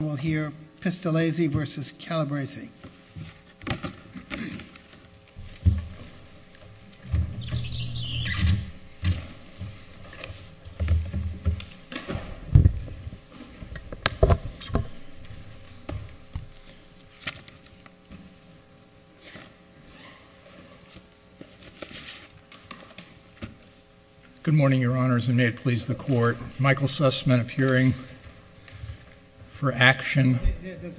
Good morning, Your Honors, and may it please the Court, Michael Sussman appearing for action. This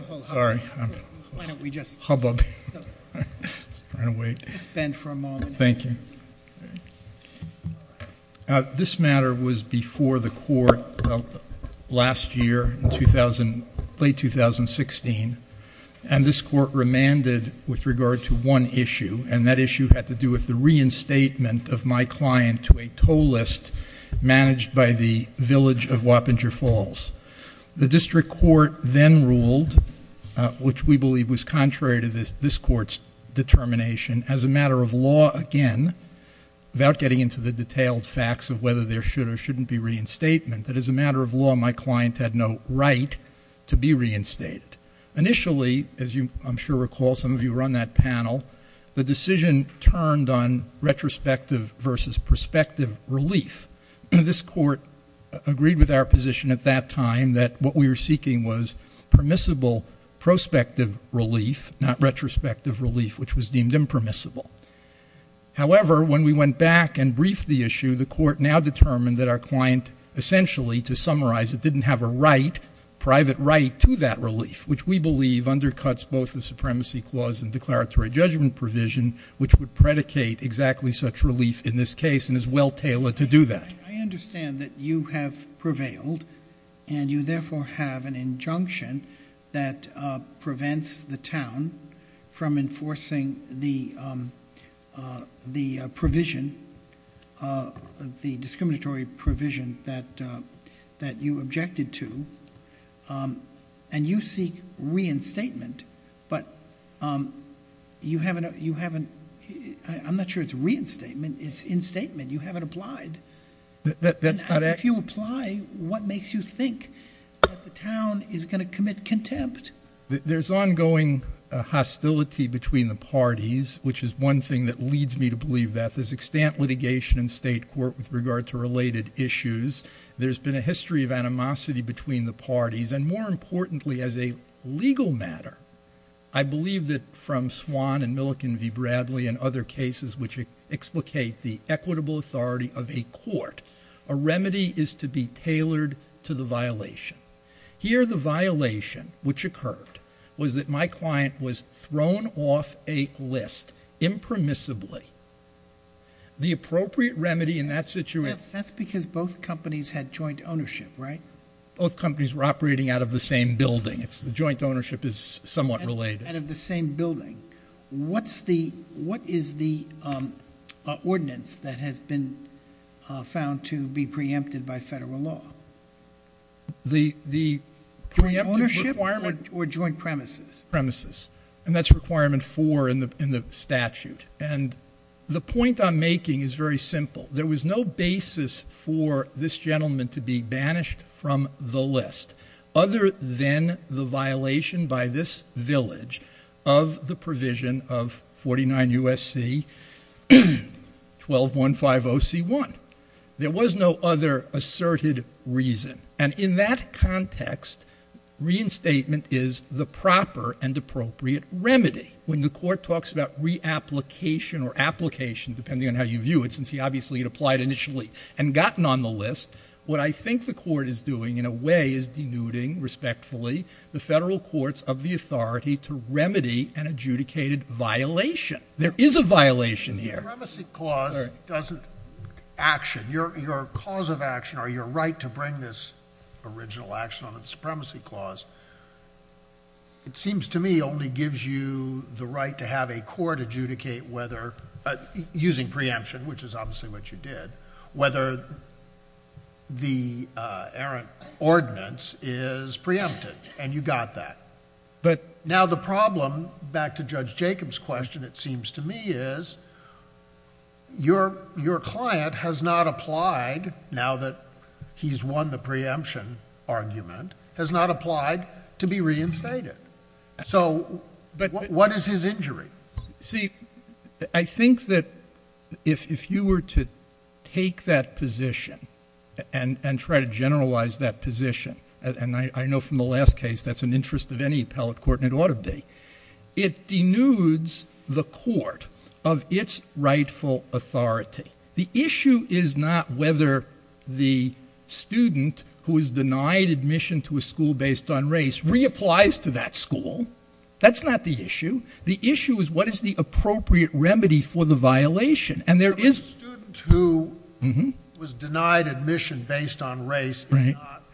matter was before the Court last year, late 2016, and this Court remanded with regard to one issue, and that issue had to do with the reinstatement of my client to a toll list managed by the village of Wappinger Falls. The District Court then ruled, which we believe was contrary to this Court's determination, as a matter of law again, without getting into the detailed facts of whether there should or shouldn't be reinstatement, that as a matter of law my client had no right to be reinstated. Initially, as I'm sure you recall, some of you were on that panel, the decision turned on retrospective versus prospective relief. This Court agreed with our position at that time that what we were seeking was permissible prospective relief, not retrospective relief, which was deemed impermissible. However, when we went back and briefed the issue, the Court now determined that our client essentially, to summarize, didn't have a right, private right, to that relief, which we believe undercuts both the supremacy clause and declaratory judgment provision, which would predicate exactly such relief in this case and is well tailored to do that. I understand that you have prevailed, and you therefore have an injunction that prevents the town from enforcing the provision, the discriminatory provision that you objected to, and you seek reinstatement. I'm not sure it's reinstatement. It's instatement. You haven't applied. If you apply, what makes you think that the town is going to commit contempt? There's ongoing hostility between the parties, which is one thing that leads me to believe that. There's extant litigation in state court with regard to related issues. There's been a history of animosity between the parties, and more importantly, as a legal matter, I believe that from Swan and Milliken v. Bradley and other cases which explicate the equitable authority of a court, a remedy is to be tailored to the violation. Here the violation which occurred was that my client was thrown off a list impermissibly. The appropriate remedy in that situation... That's because both companies had joint ownership, right? Both companies were operating out of the same building. The joint ownership is somewhat related. Out of the same building. What is the ordinance that has been found to be preempted by federal law? The preemptive requirement... Joint ownership or joint premises? Premises. And that's requirement four in the statute. The point I'm making is very simple. There was no basis for this gentleman to be banished from the list other than the violation by this village of the provision of 49 U.S.C. 12150C1. There was no other asserted reason. And in that context, reinstatement is the proper and appropriate remedy. When the court talks about reapplication or application, depending on how you view it, since he obviously had applied initially and gotten on the list, what I think the court is doing in a way is denuding, respectfully, the federal courts of the authority to remedy an adjudicated violation. There is a violation here. The Supremacy Clause doesn't action. Your cause of action or your right to bring this original action on the Supremacy Clause, it seems to me, only gives you the right to have a court adjudicate whether, using preemption, which is obviously what you did, whether the errant ordinance is preempted. And you got that. But now the problem, back to Judge Jacobs' question, it seems to me, is your client has not applied, now that he's won the preemption argument, has not applied to be reinstated. So what is his injury? See, I think that if you were to take that position and try to generalize that position, and I know from the last case that's an interest of any appellate court and it ought to be, it denudes the court of its rightful authority. The issue is not whether the student who is denied admission to a school based on race reapplies to that school. That's not the issue. The issue is what is the appropriate remedy for the violation. And there is... The student who was denied admission based on race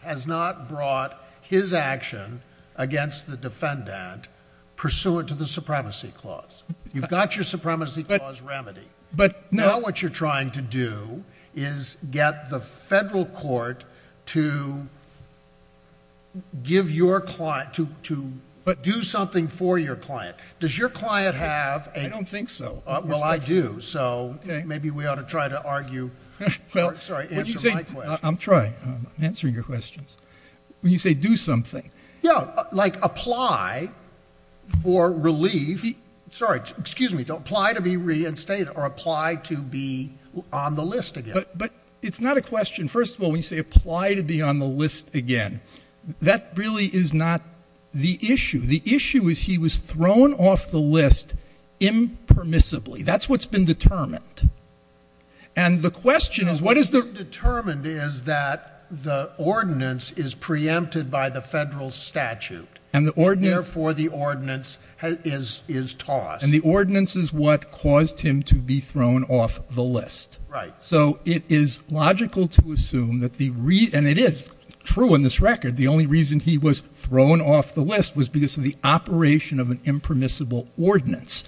has not brought his action against the defendant pursuant to the Supremacy Clause. You've got your Supremacy Clause remedy. But now what you're trying to do is get the federal court to give your client, to do something for your client. Does your client have a... I don't think so. Well, I do. So maybe we ought to try to argue... Sorry, answer my question. I'm trying. I'm answering your questions. When you say do something... Yeah, like apply for relief. Sorry, excuse me. Apply to be reinstated or apply to be on the list again. But it's not a question. First of all, when you say apply to be on the list again, that really is not the issue. The issue is he was thrown off the list impermissibly. That's what's been determined. And the question is what is the... What's been determined is that the ordinance is preempted by the federal statute. And the ordinance... And the ordinance is what caused him to be thrown off the list. Right. So it is logical to assume that the... And it is true in this record. The only reason he was thrown off the list was because of the operation of an impermissible ordinance.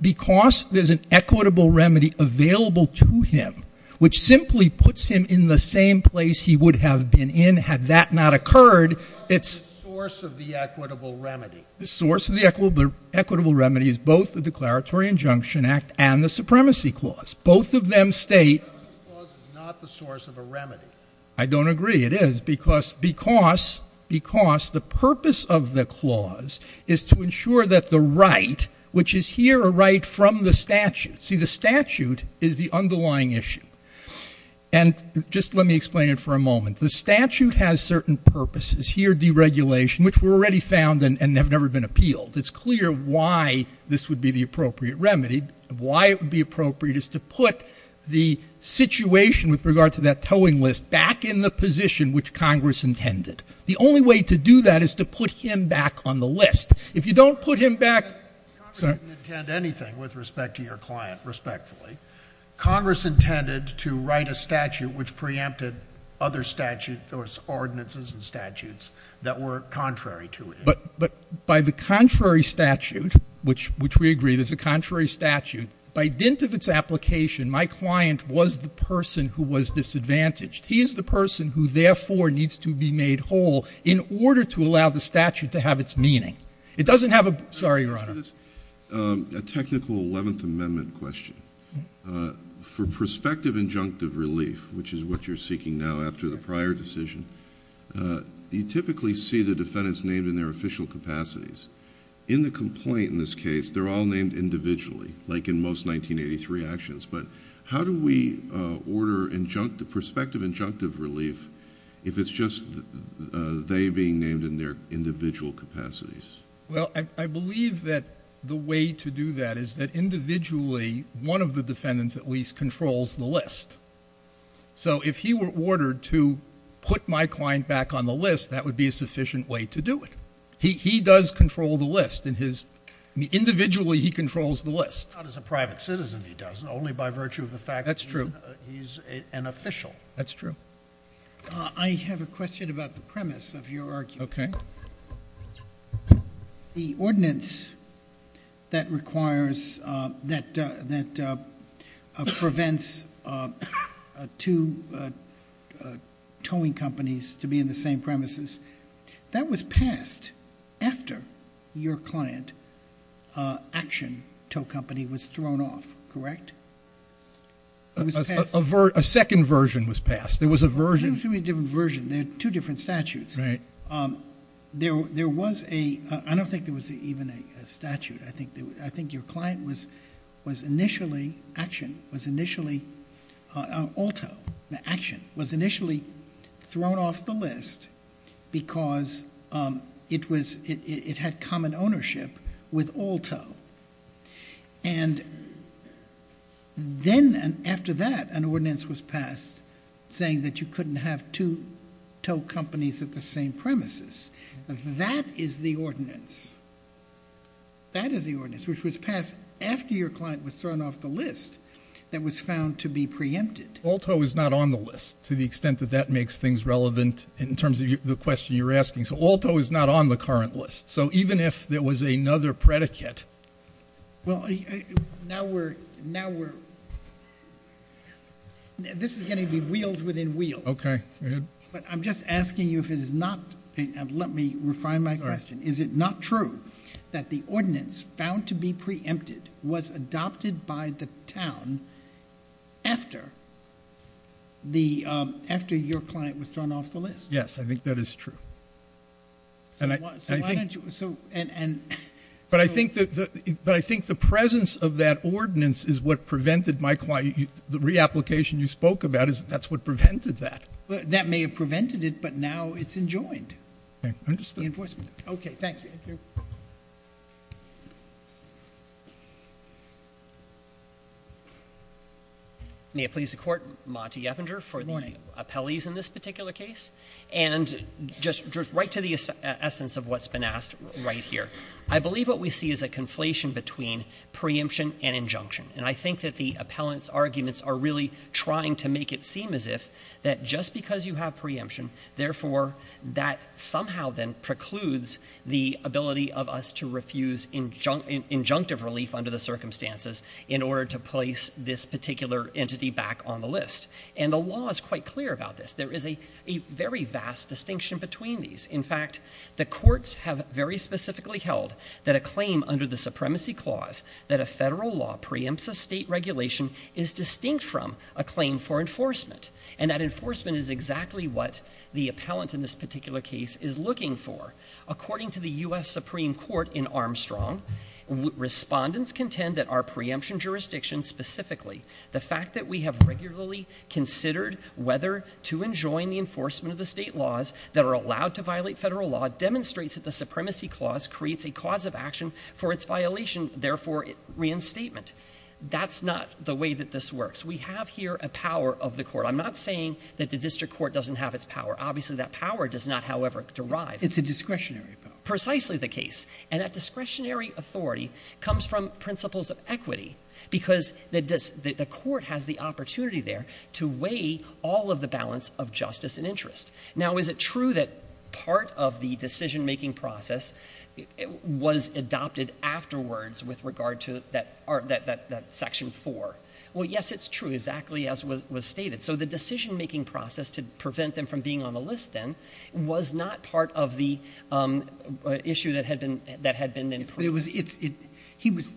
Because there's an equitable remedy available to him, which simply puts him in the same place he would have been in had that not occurred. What is the source of the equitable remedy? The source of the equitable remedy is both the Declaratory Injunction Act and the Supremacy Clause. Both of them state... The Supremacy Clause is not the source of a remedy. I don't agree. It is because the purpose of the clause is to ensure that the right, which is here a right from the statute... See, the statute is the underlying issue. And just let me explain it for a moment. The statute has certain purposes. Here, deregulation, which were already found and have never been appealed. It's clear why this would be the appropriate remedy. Why it would be appropriate is to put the situation with regard to that towing list back in the position which Congress intended. The only way to do that is to put him back on the list. If you don't put him back... Congress didn't intend anything with respect to your client, respectfully. Congress intended to write a statute which preempted other statutes or ordinances and statutes that were contrary to it. But by the contrary statute, which we agree is a contrary statute, by dint of its application, my client was the person who was disadvantaged. He is the person who, therefore, needs to be made whole in order to allow the statute to have its meaning. It doesn't have a... Sorry, Your Honor. A technical Eleventh Amendment question. For prospective injunctive relief, which is what you're seeking now after the prior decision, you typically see the defendants named in their official capacities. In the complaint in this case, they're all named individually, like in most 1983 actions. But how do we order prospective injunctive relief if it's just they being named in their individual capacities? Well, I believe that the way to do that is that individually one of the defendants at least controls the list. So if he were ordered to put my client back on the list, that would be a sufficient way to do it. He does control the list. Individually, he controls the list. Not as a private citizen, he doesn't. Only by virtue of the fact that he's an official. That's true. I have a question about the premise of your argument. Okay. The ordinance that requires, that prevents two towing companies to be in the same premises, that was passed after your client action tow company was thrown off, correct? A second version was passed. There was a version. There were two different versions. There were two different statutes. Right. There was a, I don't think there was even a statute. I think your client was initially, action, was initially, all tow, action, was initially thrown off the list because it was, it had common ownership with all tow. And then after that, an ordinance was passed saying that you couldn't have two tow companies at the same premises. That is the ordinance. That is the ordinance, which was passed after your client was thrown off the list that was found to be preempted. All tow is not on the list to the extent that that makes things relevant in terms of the question you're asking. So all tow is not on the current list. So even if there was another predicate. Well, now we're, now we're, this is going to be wheels within wheels. Okay. But I'm just asking you if it is not, let me refine my question. Is it not true that the ordinance found to be preempted was adopted by the town after the, after your client was thrown off the list? Yes, I think that is true. So why don't you, so, and, and. But I think that, but I think the presence of that ordinance is what prevented my client, the reapplication you spoke about is that's what prevented that. That may have prevented it, but now it's enjoined. Okay, understood. The enforcement. Okay, thank you. May it please the court, Monty Eppinger for the appellees in this particular case. And just right to the essence of what's been asked right here. I believe what we see is a conflation between preemption and injunction. And I think that the appellant's arguments are really trying to make it seem as if that just because you have preemption, therefore that somehow then precludes the ability of us to refuse injunctive relief under the circumstances in order to place this particular entity back on the list. And the law is quite clear about this. There is a very vast distinction between these. In fact, the courts have very specifically held that a claim under the supremacy clause, that a federal law preempts a state regulation, is distinct from a claim for enforcement. And that enforcement is exactly what the appellant in this particular case is looking for. According to the U.S. Supreme Court in Armstrong, respondents contend that our preemption jurisdiction, specifically the fact that we have regularly considered whether to enjoin the enforcement of the state laws that are allowed to violate federal law, demonstrates that the supremacy clause creates a cause of action for its violation, therefore reinstatement. That's not the way that this works. We have here a power of the court. I'm not saying that the district court doesn't have its power. Obviously, that power does not, however, derive. It's a discretionary power. Precisely the case. And that discretionary authority comes from principles of equity, because the court has the opportunity there to weigh all of the balance of justice and interest. Now, is it true that part of the decision-making process was adopted afterwards with regard to that section 4? Well, yes, it's true, exactly as was stated. So the decision-making process to prevent them from being on the list then was not part of the issue that had been in place. But it was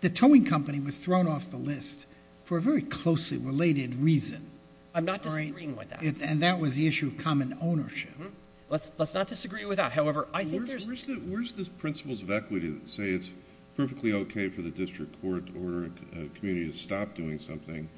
the towing company was thrown off the list for a very closely related reason. I'm not disagreeing with that. And that was the issue of common ownership. Let's not disagree with that. Where's the principles of equity that say it's perfectly okay for the district court to order a community to stop doing something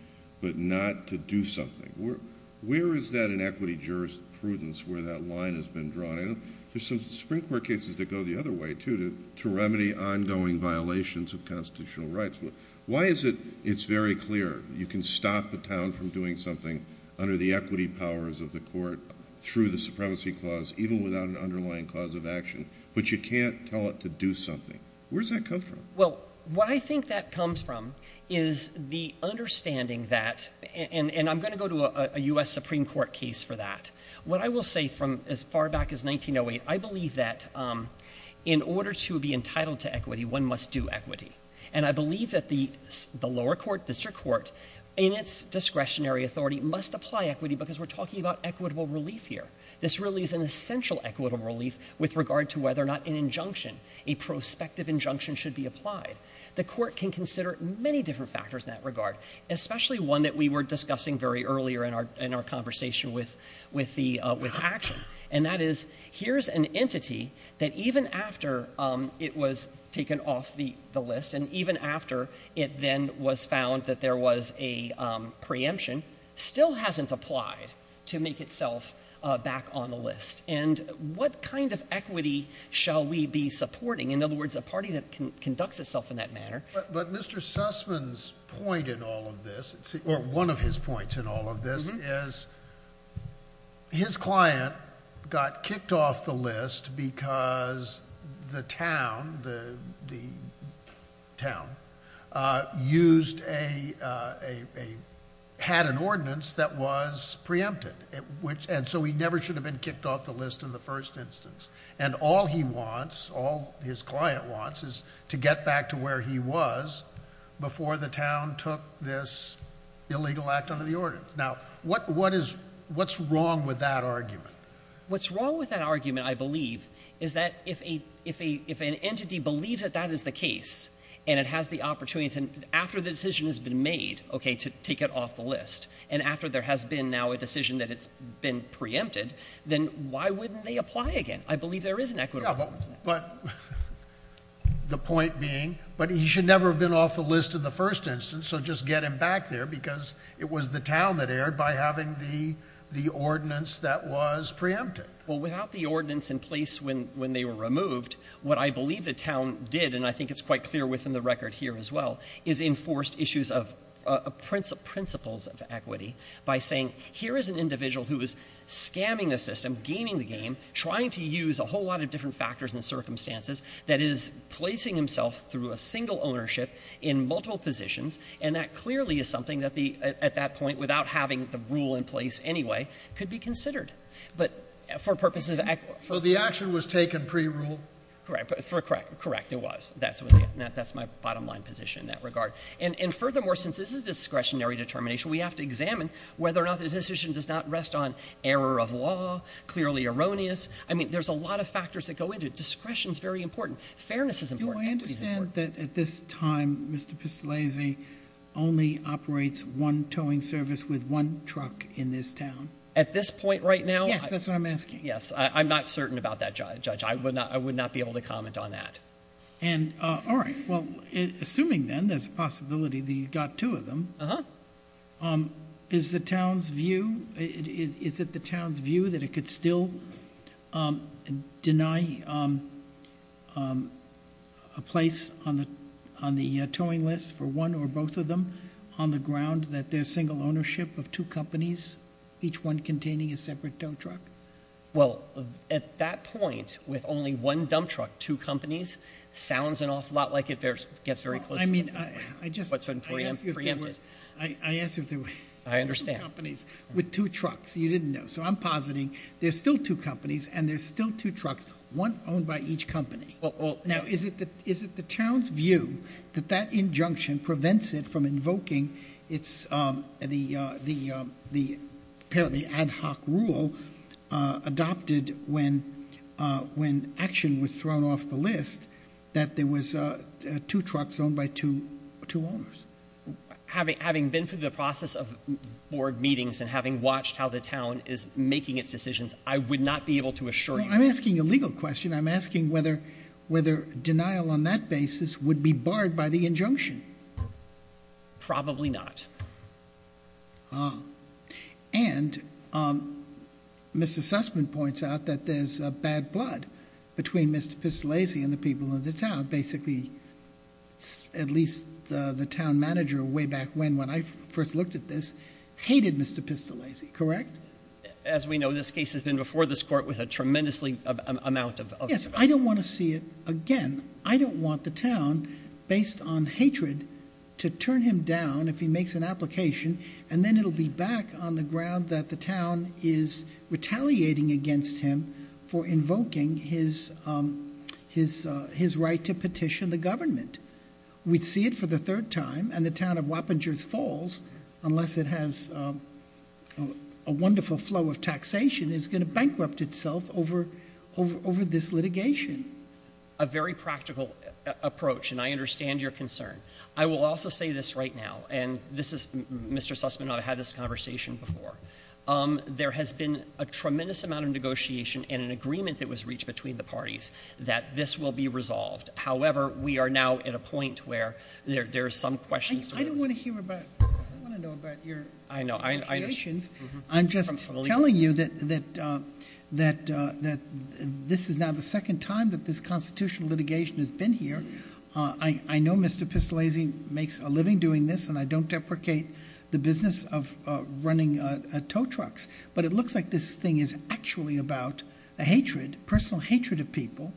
but not to do something? Where is that in equity jurisprudence where that line has been drawn? There's some Supreme Court cases that go the other way, too, to remedy ongoing violations of constitutional rights. Why is it it's very clear you can stop a town from doing something under the equity powers of the court through the supremacy clause even without an underlying clause of action, but you can't tell it to do something? Where does that come from? Well, what I think that comes from is the understanding that, and I'm going to go to a U.S. Supreme Court case for that. What I will say from as far back as 1908, I believe that in order to be entitled to equity, one must do equity. And I believe that the lower court, district court, in its discretionary authority must apply equity because we're talking about equitable relief here. This really is an essential equitable relief with regard to whether or not an injunction, a prospective injunction, should be applied. The court can consider many different factors in that regard, especially one that we were discussing very earlier in our conversation with action. And that is here's an entity that even after it was taken off the list and even after it then was found that there was a preemption, still hasn't applied to make itself back on the list. And what kind of equity shall we be supporting? In other words, a party that conducts itself in that manner. But Mr. Sussman's point in all of this, or one of his points in all of this, is his client got kicked off the list because the town used a, had an ordinance that was preempted. And so he never should have been kicked off the list in the first instance. And all he wants, all his client wants, is to get back to where he was before the town took this illegal act under the ordinance. Now, what's wrong with that argument? What's wrong with that argument, I believe, is that if an entity believes that that is the case, and it has the opportunity to, after the decision has been made, okay, to take it off the list, and after there has been now a decision that it's been preempted, then why wouldn't they apply again? I believe there is an equitable argument to that. Yeah, but the point being, but he should never have been off the list in the first instance, so just get him back there because it was the town that erred by having the ordinance that was preempted. Well, without the ordinance in place when they were removed, what I believe the town did, and I think it's quite clear within the record here as well, is enforced issues of principles of equity by saying, here is an individual who is scamming the system, gaming the game, trying to use a whole lot of different factors and circumstances, that is placing himself through a single ownership in multiple positions, and that clearly is something that at that point, without having the rule in place anyway, could be considered, but for purposes of equity. So the action was taken pre-rule? Correct. Correct. Correct, it was. That's my bottom line position in that regard. And furthermore, since this is a discretionary determination, we have to examine whether or not the decision does not rest on error of law, clearly erroneous. I mean, there's a lot of factors that go into it. Discretion is very important. Fairness is important. Do I understand that at this time, Mr. Pistolese only operates one towing service with one truck in this town? At this point right now? Yes, that's what I'm asking. Yes, I'm not certain about that, Judge. I would not be able to comment on that. All right, well, assuming then there's a possibility that you've got two of them, is it the town's view that it could still deny a place on the towing list for one or both of them on the ground that there's single ownership of two companies, each one containing a separate dump truck? Well, at that point, with only one dump truck, two companies, sounds an awful lot like it gets very close to what's been preempted. I ask you if there were two companies with two trucks. You didn't know. So I'm positing there's still two companies and there's still two trucks, one owned by each company. Now, is it the town's view that that injunction prevents it from invoking the ad hoc rule adopted when action was thrown off the list that there was two trucks owned by two owners? Having been through the process of board meetings and having watched how the town is making its decisions, I would not be able to assure you. I'm asking a legal question. I'm asking whether denial on that basis would be barred by the injunction. Probably not. And Mr. Sussman points out that there's bad blood between Mr. Pistolesi and the people of the town. Basically, at least the town manager way back when, when I first looked at this, hated Mr. Pistolesi, correct? As we know, this case has been before this court with a tremendously amount of... Yes, I don't want to see it again. I don't want the town, based on hatred, to turn him down if he makes an application, and then it'll be back on the ground that the town is retaliating against him for invoking his right to petition the government. We'd see it for the third time, and the town of Wappingers Falls, unless it has a wonderful flow of taxation, is going to bankrupt itself over this litigation. A very practical approach, and I understand your concern. I will also say this right now, and Mr. Sussman and I have had this conversation before. There has been a tremendous amount of negotiation and an agreement that was reached between the parties that this will be resolved. However, we are now at a point where there are some questions. I don't want to hear about, I don't want to know about your negotiations. I'm just telling you that this is now the second time that this constitutional litigation has been here. I know Mr. Pistolesi makes a living doing this, and I don't deprecate the business of running tow trucks, but it looks like this thing is actually about a personal hatred of people,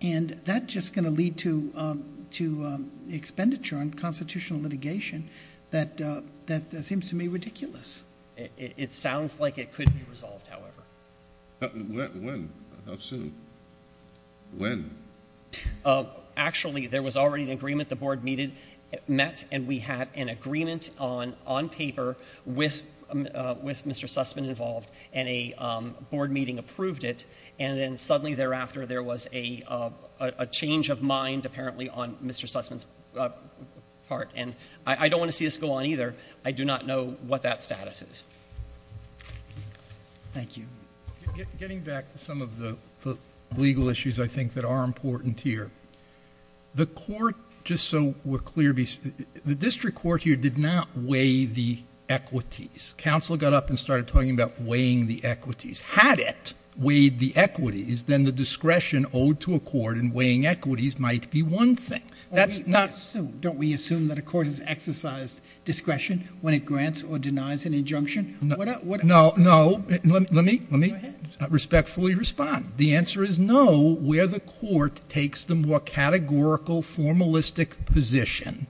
and that's just going to lead to expenditure on constitutional litigation that seems to me ridiculous. It sounds like it could be resolved, however. When? How soon? When? Actually, there was already an agreement the board met, and we had an agreement on paper with Mr. Sussman involved, and a board meeting approved it, and then suddenly thereafter there was a change of mind apparently on Mr. Sussman's part, and I don't want to see this go on either. I do not know what that status is. Thank you. Getting back to some of the legal issues I think that are important here, the court, just so we're clear, the district court here did not weigh the equities. Counsel got up and started talking about weighing the equities. Had it weighed the equities, then the discretion owed to a court in weighing equities might be one thing. Don't we assume that a court has exercised discretion when it grants or denies an injunction? No. Let me respectfully respond. The answer is no where the court takes the more categorical, formalistic position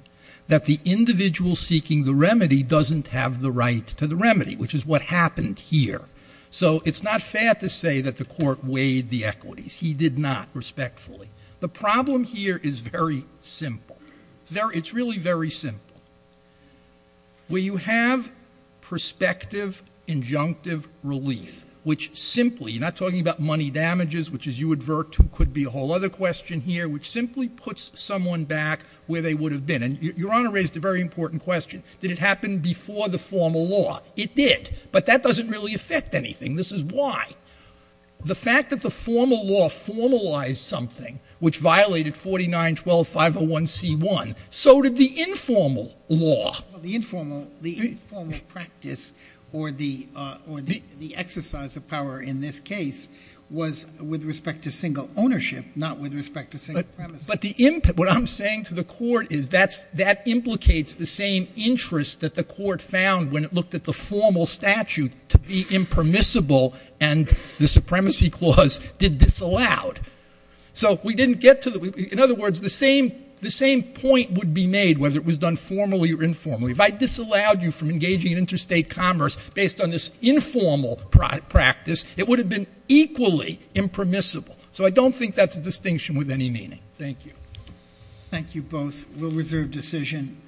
that the individual seeking the remedy doesn't have the right to the remedy, which is what happened here. So it's not fair to say that the court weighed the equities. He did not, respectfully. The problem here is very simple. It's really very simple. Where you have prospective injunctive relief, which simply, you're not talking about money damages, which as you advert to could be a whole other question here, which simply puts someone back where they would have been. And Your Honor raised a very important question. Did it happen before the formal law? It did, but that doesn't really affect anything. This is why. The fact that the formal law formalized something, which violated 49-12-501c1, so did the informal law. The informal practice or the exercise of power in this case was with respect to single ownership, not with respect to single premises. But what I'm saying to the court is that that implicates the same interest that the court found when it looked at the formal statute to be impermissible and the supremacy clause did disallowed. In other words, the same point would be made whether it was done formally or informally. If I disallowed you from engaging in interstate commerce based on this informal practice, it would have been equally impermissible. So I don't think that's a distinction with any meaning. Thank you. Thank you both. We'll reserve decision.